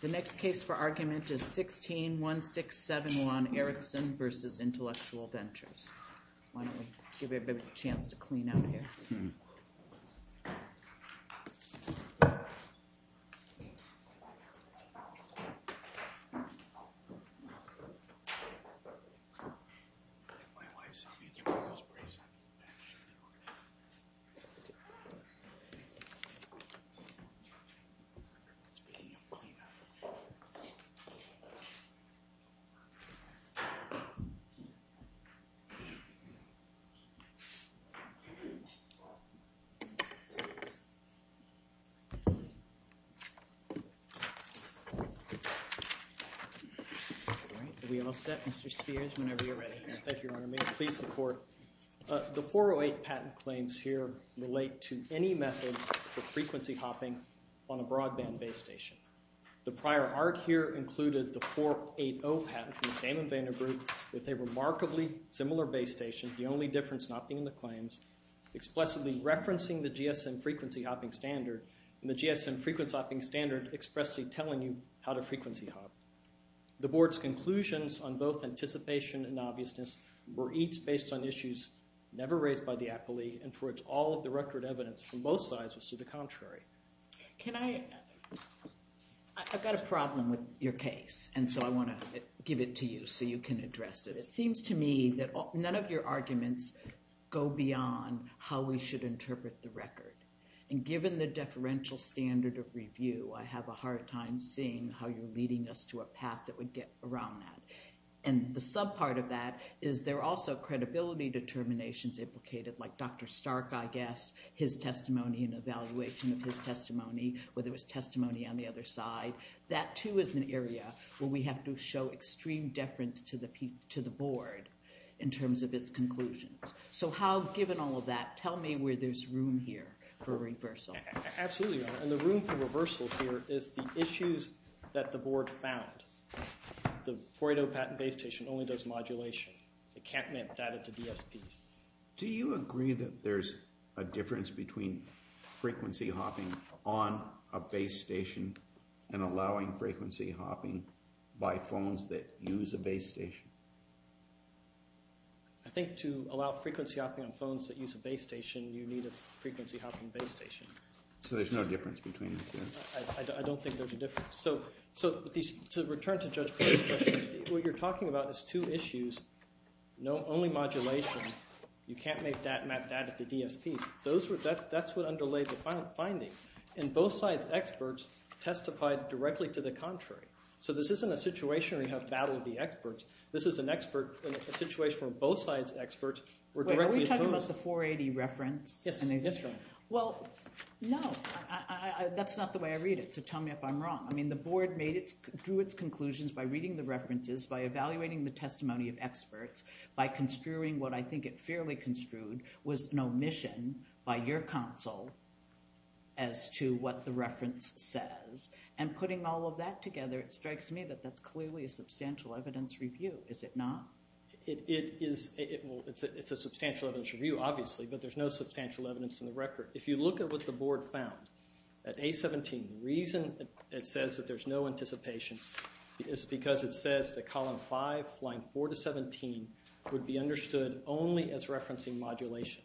The next case for argument is 16-1671 Ericsson v. Intellectual Ventures. Why don't we give everybody a chance to clean up here. The 408 patent claims here relate to any method of frequency hopping on a broadband base station. The prior art here included the 480 patent from the same inventor group with a remarkably similar base station, the only difference not being the claims, explicitly referencing the GSM frequency hopping standard and the GSM frequency hopping standard expressly telling you how to frequency hop. The board's conclusions on both anticipation and obviousness were each based on issues never raised by the appellee and for which all of the record evidence from both sides was to the contrary. Can I, I've got a problem with your case and so I want to give it to you so you can address it. It seems to me that none of your arguments go beyond how we should interpret the record. And given the deferential standard of review, I have a hard time seeing how you're leading us to a path that would get around that. And the sub part of that is there are also credibility determinations implicated like Dr. Stark, I guess, his testimony and evaluation of his testimony, whether it was testimony on the other side. That too is an area where we have to show extreme deference to the board in terms of its conclusions. So how, given all of that, tell me where there's room here for reversal. Absolutely, and the room for reversal here is the issues that the board found. The Froydo patent base station only does modulation. It can't map data to DSPs. Do you agree that there's a difference between frequency hopping on a base station and allowing frequency hopping by phones that use a base station? I think to allow frequency hopping on phones that use a base station, you need a frequency hopping base station. So there's no difference between them? I don't think there's a difference. So to return to Judge Coyle's question, what you're talking about is two issues, only modulation. You can't make that map data to DSPs. That's what underlays the finding. And both sides' experts testified directly to the contrary. So this isn't a situation where you have battle of the experts. This is an expert in a situation where both sides' experts were directly opposed. Wait, are we talking about the 480 reference? Yes. Well, no. That's not the way I read it, so tell me if I'm wrong. I mean, the board drew its conclusions by reading the references, by evaluating the testimony of experts, by construing what I think it fairly construed was an omission by your counsel as to what the reference says. And putting all of that together, it strikes me that that's clearly a substantial evidence review. Is it not? It is. Well, it's a substantial evidence review, obviously, but there's no substantial evidence in the record. If you look at what the board found at A17, the reason it says that there's no anticipation is because it says that column 5, line 4 to 17, would be understood only as referencing modulation.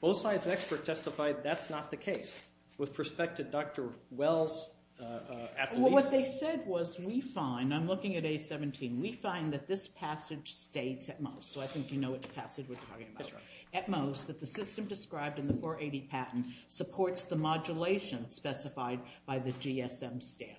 Both sides' experts testified that's not the case. With respect to Dr. Wells, at least... What they said was, we find, I'm looking at A17, we find that this passage states at most, so I think you know what passage we're talking about, at most, that the system described in the 480 patent supports the modulation specified by the GSM standard.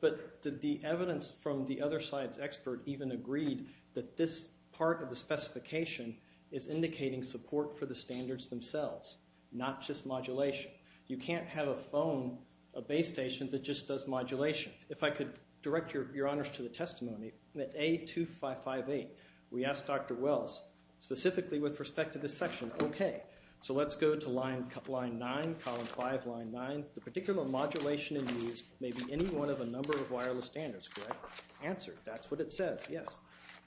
But the evidence from the other side's expert even agreed that this part of the specification is indicating support for the standards themselves, not just modulation. You can't have a phone, a base station, that just does modulation. If I could direct your honors to the testimony, at A2558, we asked Dr. Wells, specifically with respect to this section, okay, so let's go to line 9, column 5, line 9, the particular modulation in use may be any one of a number of wireless standards, correct? Answered. That's what it says, yes.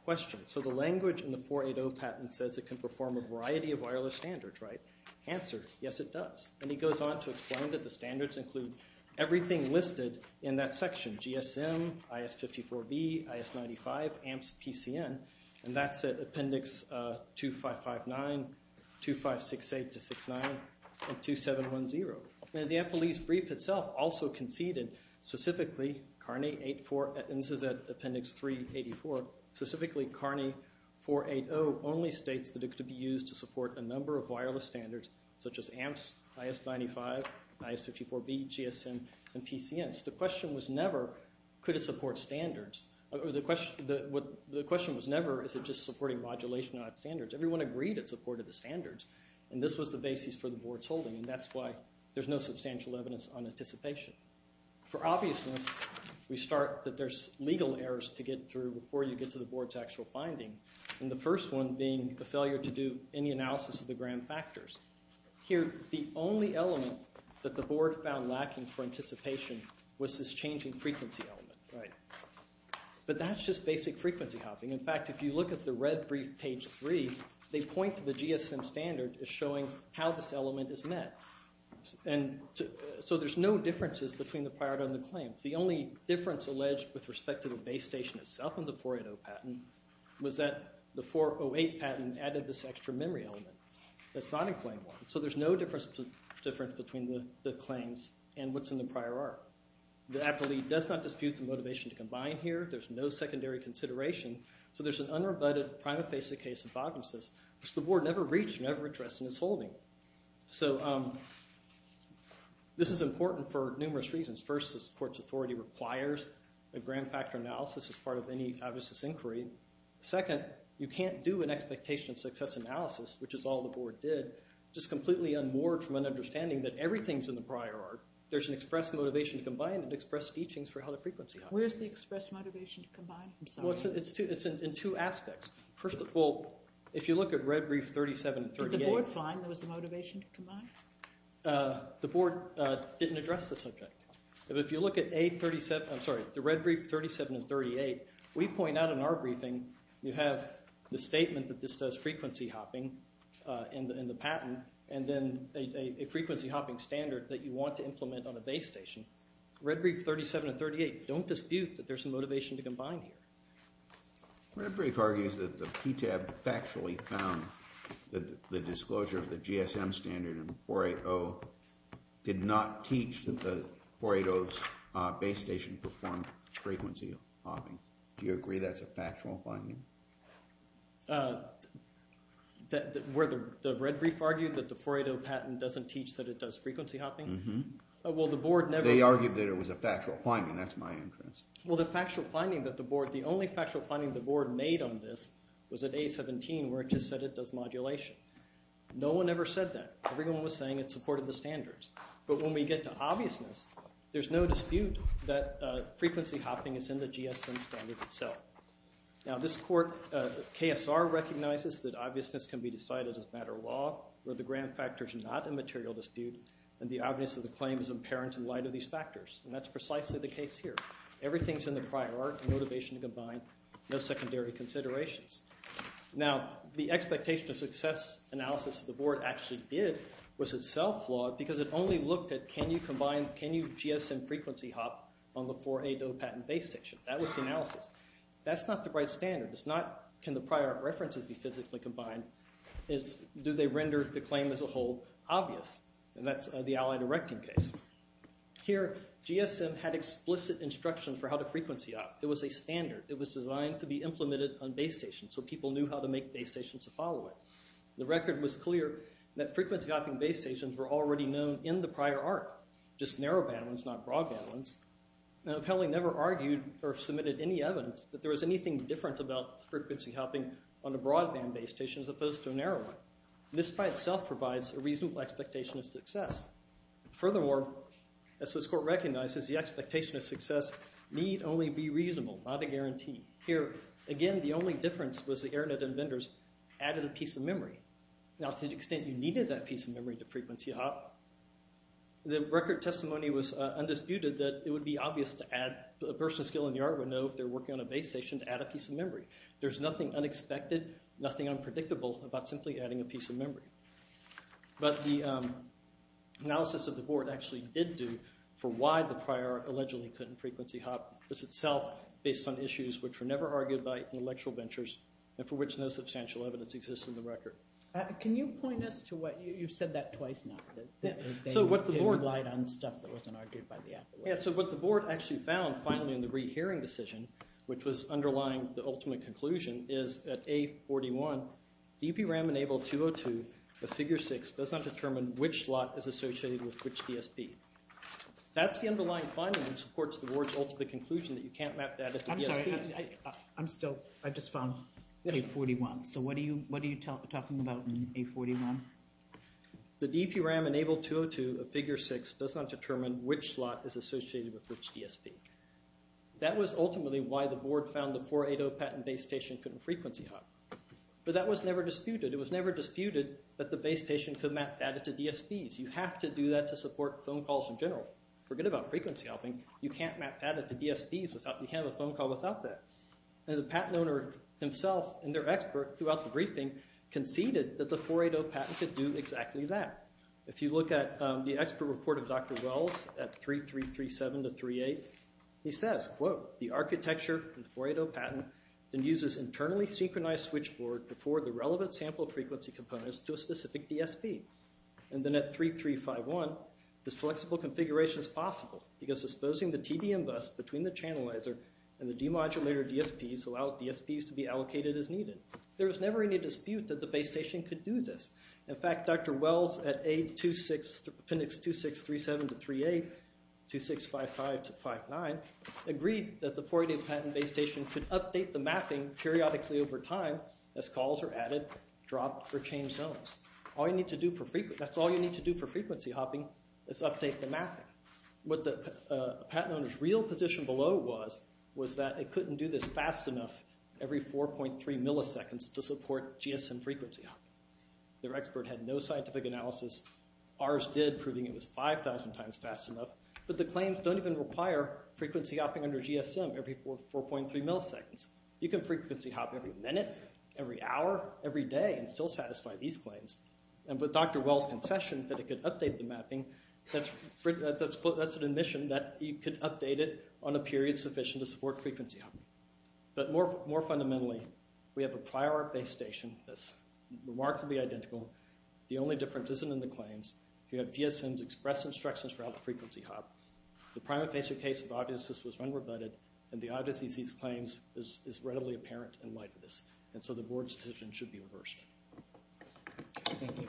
Question. So the language in the 480 patent says it can perform a variety of wireless standards, right? Answered. Yes, it does. And he goes on to explain that the standards include everything listed in that section, GSM, IS-54B, IS-95, AMPS, PCN, and that's at appendix 2559, 2568-69, and 2710. And the Appleese brief itself also conceded, specifically, CARNI 8-4, and this is at appendix 384, specifically CARNI 480 only states that it could be used to support a number of wireless standards such as AMPS, IS-95, IS-54B, GSM, and PCN. Hence, the question was never could it support standards, or the question was never is it just supporting modulation out of standards. Everyone agreed it supported the standards, and this was the basis for the board's holding, and that's why there's no substantial evidence on anticipation. For obviousness, we start that there's legal errors to get through before you get to the board's actual finding, and the first one being the failure to do any analysis of the grand factors. Here, the only element that the board found lacking for anticipation was this changing frequency element, but that's just basic frequency hopping. In fact, if you look at the red brief, page 3, they point to the GSM standard as showing how this element is met, and so there's no differences between the priority and the claims. The only difference alleged with respect to the base station itself and the 480 patent was that the 408 patent added this extra memory element. That's not in claim 1, so there's no difference between the claims and what's in the prior art. The appellee does not dispute the motivation to combine here. There's no secondary consideration, so there's an unrebutted prima facie case that bottoms this, which the board never reached, never addressed in its holding, so this is important for numerous reasons. First, this court's authority requires a grand factor analysis as part of any obviousness inquiry. Second, you can't do an expectation of success analysis, which is all the board did, just completely unmoored from an understanding that everything's in the prior art. There's an express motivation to combine and express teachings for how the frequency hops. Where's the express motivation to combine? I'm sorry. It's in two aspects. First of all, if you look at red brief 37 and 38. Did the board find there was a motivation to combine? The board didn't address the subject. If you look at A37, I'm sorry, the red brief 37 and 38, we point out in our briefing you have the statement that this does frequency hopping in the patent and then a frequency hopping standard that you want to implement on a base station. Red brief 37 and 38 don't dispute that there's a motivation to combine here. Red brief argues that the PTAB factually found that the disclosure of the GSM standard in the 480's base station performed frequency hopping. Do you agree that's a factual finding? Where the red brief argued that the 480 patent doesn't teach that it does frequency hopping? They argued that it was a factual finding. That's my interest. Well, the factual finding that the board, the only factual finding the board made on this was at A17 where it just said it does modulation. No one ever said that. Everyone was saying it supported the standards. But when we get to obviousness, there's no dispute that frequency hopping is in the GSM standard itself. Now, this court, KSR, recognizes that obviousness can be decided as a matter of law where the grand factor is not a material dispute and the obvious of the claim is apparent in light of these factors. And that's precisely the case here. Everything's in the prior art, motivation to combine, no secondary considerations. Now, the expectation of success analysis the board actually did was itself flawed because it only looked at can you combine, can you GSM frequency hop on the 480 patent base station. That was the analysis. That's not the right standard. It's not can the prior art references be physically combined. It's do they render the claim as a whole obvious. And that's the Allied Erecting case. Here, GSM had explicit instructions for how to frequency hop. It was a standard. It was designed to be implemented on base stations so people knew how to make base stations to follow it. The record was clear that frequency hopping base stations were already known in the prior art, just narrow band ones, not broad band ones. Now, the appellee never argued or submitted any evidence that there was anything different about frequency hopping on a broad band base station as opposed to a narrow one. This by itself provides a reasonable expectation of success. Furthermore, as this court recognizes, the expectation of success need only be reasonable, not a guarantee. Here, again, the only difference was the Airnet and vendors added a piece of memory. Now, to the extent you needed that piece of memory to frequency hop, the record testimony was undisputed that it would be obvious to add a person of skill in the art would know if they're working on a base station to add a piece of memory. There's nothing unexpected, nothing unpredictable about simply adding a piece of memory. But the analysis of the board actually did do for why the prior art allegedly couldn't frequency hop. It's itself based on issues which were never argued by intellectual ventures and for which no substantial evidence exists in the record. Can you point us to what – you've said that twice now, that they didn't rely on stuff that wasn't argued by the appellate. Yeah, so what the board actually found finally in the Reed hearing decision, which was underlying the ultimate conclusion, is at A41, the EPRM-enabled 202 of Figure 6 does not determine which slot is associated with which DSP. That's the underlying finding which supports the board's ultimate conclusion that you can't map data to DSPs. I'm sorry. I'm still – I just found A41. So what are you talking about in A41? The EPRM-enabled 202 of Figure 6 does not determine which slot is associated with which DSP. That was ultimately why the board found the 480 patent base station couldn't frequency hop. But that was never disputed. It was never disputed that the base station could map data to DSPs. You have to do that to support phone calls in general. Forget about frequency hopping. You can't map data to DSPs without – you can't have a phone call without that. And the patent owner himself and their expert throughout the briefing conceded that the 480 patent could do exactly that. If you look at the expert report of Dr. Wells at 3337-38, he says, quote, the architecture of the 480 patent then uses internally synchronized switchboard to forward the relevant sample frequency components to a specific DSP. And then at 3351, this flexible configuration is possible because disposing the TDM bus between the channelizer and the demodulator DSPs allow DSPs to be allocated as needed. There was never any dispute that the base station could do this. In fact, Dr. Wells at A26 – appendix 2637-38, 2655-59, agreed that the 480 patent base station could update the mapping periodically over time as calls are added, dropped, or changed zones. All you need to do for – that's all you need to do for frequency hopping is update the mapping. What the patent owner's real position below was was that it couldn't do this fast enough every 4.3 milliseconds to support GSM frequency hopping. Their expert had no scientific analysis. Ours did, proving it was 5,000 times fast enough. But the claims don't even require frequency hopping under GSM every 4.3 milliseconds. You can frequency hop every minute, every hour, every day, and still satisfy these claims. And with Dr. Wells' concession that it could update the mapping, that's an admission that you could update it on a period sufficient to support frequency hopping. But more fundamentally, we have a prior base station that's remarkably identical. The only difference isn't in the claims. You have GSM's express instructions for how to frequency hop. The primer-facer case of obviousness was unrebutted, and the obviousness of these claims is readily apparent in light of this. And so the board's decision should be reversed. Thank you.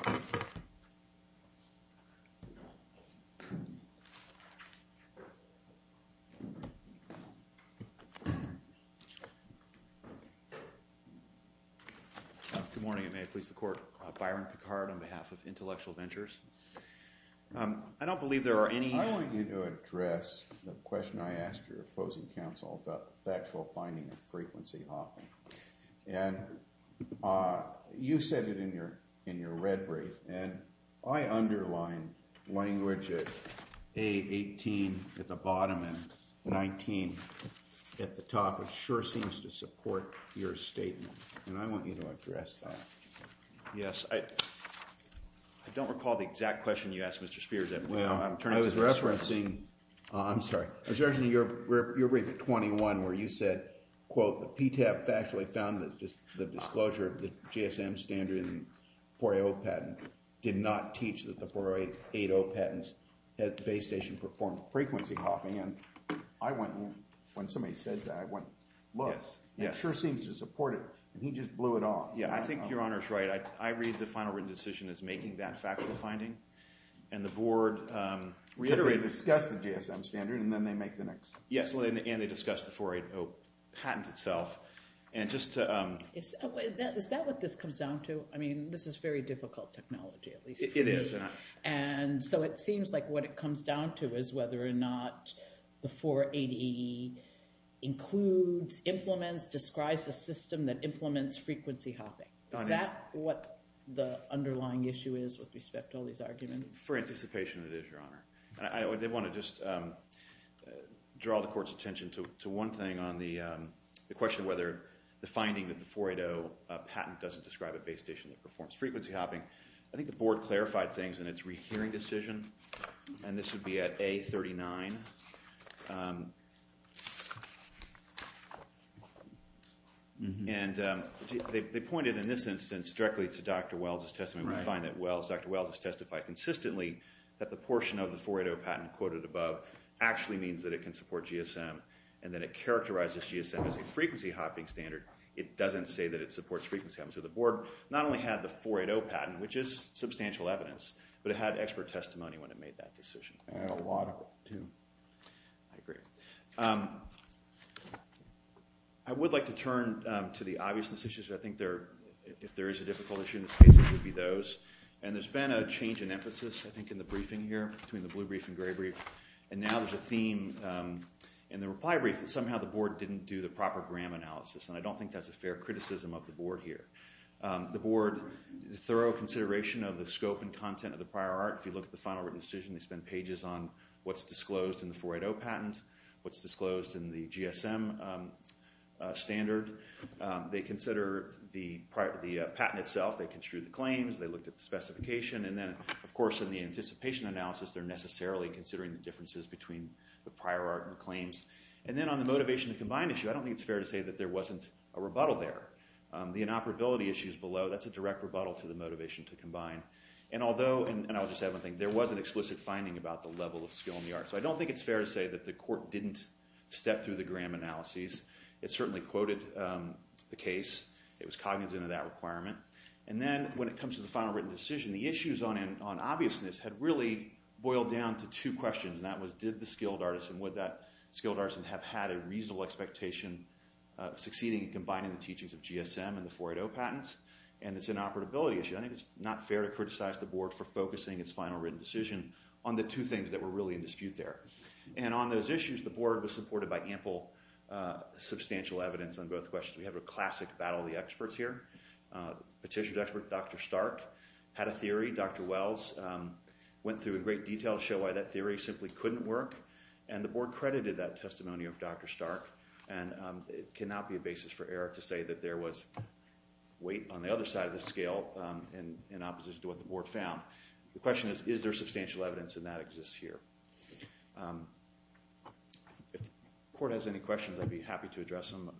Good morning, and may it please the Court. Byron Picard on behalf of Intellectual Ventures. I don't believe there are any- I want you to address the question I asked your opposing counsel about the actual finding of frequency hopping. And you said it in your red brief, and I underline language at A18 at the bottom and 19 at the top. It sure seems to support your statement, and I want you to address that. Yes. I don't recall the exact question you asked, Mr. Spear. Well, I was referencing-I'm sorry. I was referencing your brief at 21 where you said, quote, the PTAP factually found that the disclosure of the GSM standard in the 4AO patent did not teach that the 4AO patents at the base station performed frequency hopping. And I went-when somebody says that, I went, look, it sure seems to support it. And he just blew it off. Yeah, I think Your Honor's right. I read the final written decision as making that factual finding, and the board reiterated- They discussed the GSM standard, and then they make the next- Yes, and they discussed the 4AO patent itself. And just to- Is that what this comes down to? I mean, this is very difficult technology, at least for me. It is. And so it seems like what it comes down to is whether or not the 480E includes, implements, describes a system that implements frequency hopping. Is that what the underlying issue is with respect to all these arguments? For anticipation, it is, Your Honor. I did want to just draw the court's attention to one thing on the question whether the finding that the 4AO patent doesn't describe a base station that performs frequency hopping. I think the board clarified things in its rehearing decision, and this would be at A39. And they pointed in this instance directly to Dr. Wells' testimony. We find that Dr. Wells has testified consistently that the portion of the 4AO patent quoted above actually means that it can support GSM, and that it characterizes GSM as a frequency hopping standard. It doesn't say that it supports frequency hopping. So the board not only had the 4AO patent, which is substantial evidence, but it had expert testimony when it made that decision. I had a lot of it, too. I agree. I would like to turn to the obviousness issues. I think if there is a difficult issue in this case, it would be those. And there's been a change in emphasis, I think, in the briefing here, between the blue brief and gray brief. And now there's a theme in the reply brief that somehow the board didn't do the proper gram analysis, and I don't think that's a fair criticism of the board here. The board's thorough consideration of the scope and content of the prior art, if you look at the final written decision, they spend pages on what's disclosed in the 4AO patent, what's disclosed in the GSM standard. They consider the patent itself. They construed the claims. They looked at the specification. And then, of course, in the anticipation analysis, they're necessarily considering the differences between the prior art and the claims. And then on the motivation to combine issue, I don't think it's fair to say that there wasn't a rebuttal there. The inoperability issue is below. That's a direct rebuttal to the motivation to combine. And I'll just add one thing. There was an explicit finding about the level of skill in the art. So I don't think it's fair to say that the court didn't step through the gram analyses. It certainly quoted the case. It was cognizant of that requirement. And then when it comes to the final written decision, the issues on obviousness had really boiled down to two questions, and that was did the skilled artisan, would that skilled artisan have had a reasonable expectation of succeeding in combining the teachings of GSM and the 4AO patents? And it's an inoperability issue. I think it's not fair to criticize the board for focusing its final written decision on the two things that were really in dispute there. And on those issues, the board was supported by ample substantial evidence on both questions. We have a classic battle of the experts here. Petitioner's expert, Dr. Stark, had a theory. Dr. Wells went through in great detail to show why that theory simply couldn't work. And the board credited that testimony of Dr. Stark. And it cannot be a basis for error to say that there was weight on the other side of the scale in opposition to what the board found. The question is, is there substantial evidence, and that exists here. If the court has any questions, I'd be happy to address them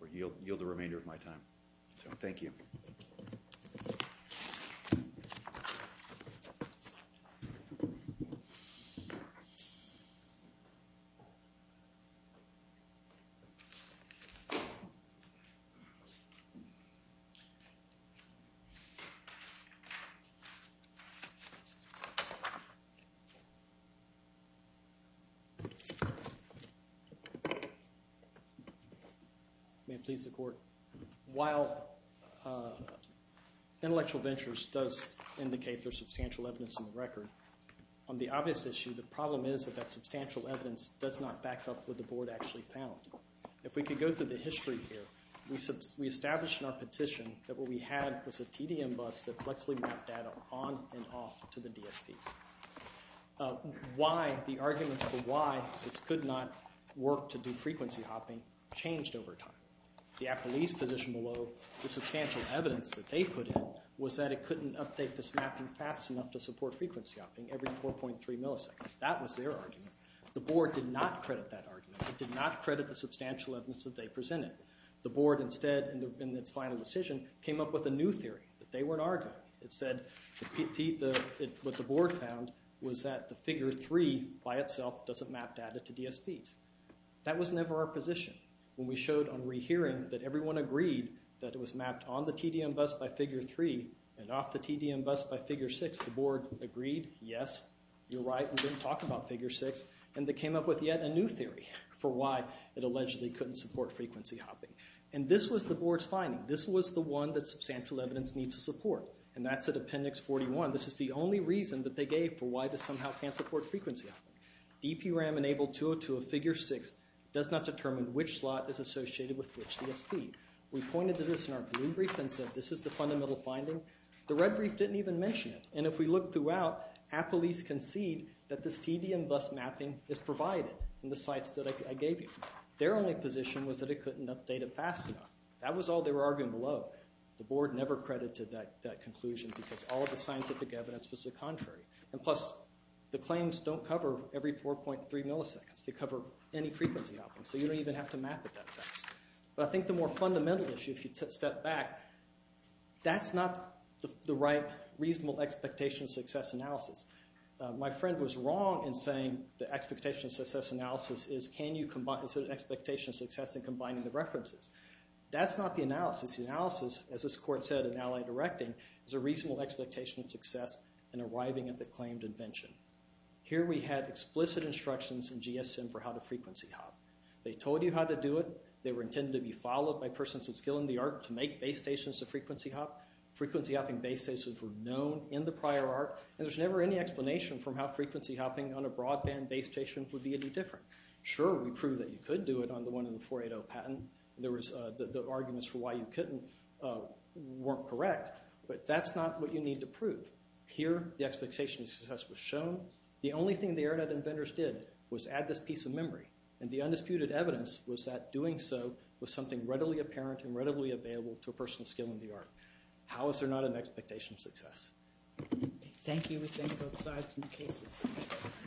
or yield the remainder of my time. So thank you. May it please the court. While intellectual ventures does indicate there's substantial evidence in the record, on the obvious issue, the problem is that that substantial evidence does not back up what the board actually found. If we could go through the history here, we established in our petition that what we had was a TDM bus that flexibly mapped data on and off to the DSP. Why the arguments for why this could not work to do frequency hopping changed over time. The appellee's position below the substantial evidence that they put in was that it couldn't update this mapping fast enough to support frequency hopping every 4.3 milliseconds. That was their argument. The board did not credit that argument. It did not credit the substantial evidence that they presented. The board instead, in its final decision, came up with a new theory that they weren't arguing. It said what the board found was that the figure three by itself doesn't map data to DSPs. That was never our position. When we showed on rehearing that everyone agreed that it was mapped on the TDM bus by figure three and off the TDM bus by figure six, the board agreed, yes, you're right, we didn't talk about figure six, and they came up with yet a new theory for why it allegedly couldn't support frequency hopping. And this was the board's finding. This was the one that substantial evidence needs to support, and that's at appendix 41. This is the only reason that they gave for why this somehow can't support frequency hopping. DPRAM enabled 202 of figure six does not determine which slot is associated with which DSP. We pointed to this in our blue brief and said this is the fundamental finding. The red brief didn't even mention it, and if we look throughout, Appleese concede that this TDM bus mapping is provided in the sites that I gave you. Their only position was that it couldn't update it fast enough. That was all they were arguing below. The board never credited that conclusion because all of the scientific evidence was the contrary. And plus, the claims don't cover every 4.3 milliseconds. They cover any frequency hopping, so you don't even have to map it that fast. But I think the more fundamental issue, if you step back, that's not the right reasonable expectation of success analysis. My friend was wrong in saying the expectation of success analysis is can you combine – is it an expectation of success in combining the references? That's not the analysis. As this court said in Allied Directing, it's a reasonable expectation of success in arriving at the claimed invention. Here we had explicit instructions in GSM for how to frequency hop. They told you how to do it. They were intended to be followed by persons with skill in the art to make base stations to frequency hop. Frequency hopping base stations were known in the prior art, and there's never any explanation from how frequency hopping on a broadband base station would be any different. Sure, we proved that you could do it on the one in the 480 patent. There was – the arguments for why you couldn't weren't correct, but that's not what you need to prove. Here the expectation of success was shown. The only thing the Airnet inventors did was add this piece of memory, and the undisputed evidence was that doing so was something readily apparent and readily available to a person with skill in the art. How is there not an expectation of success? Thank you. We thank both sides.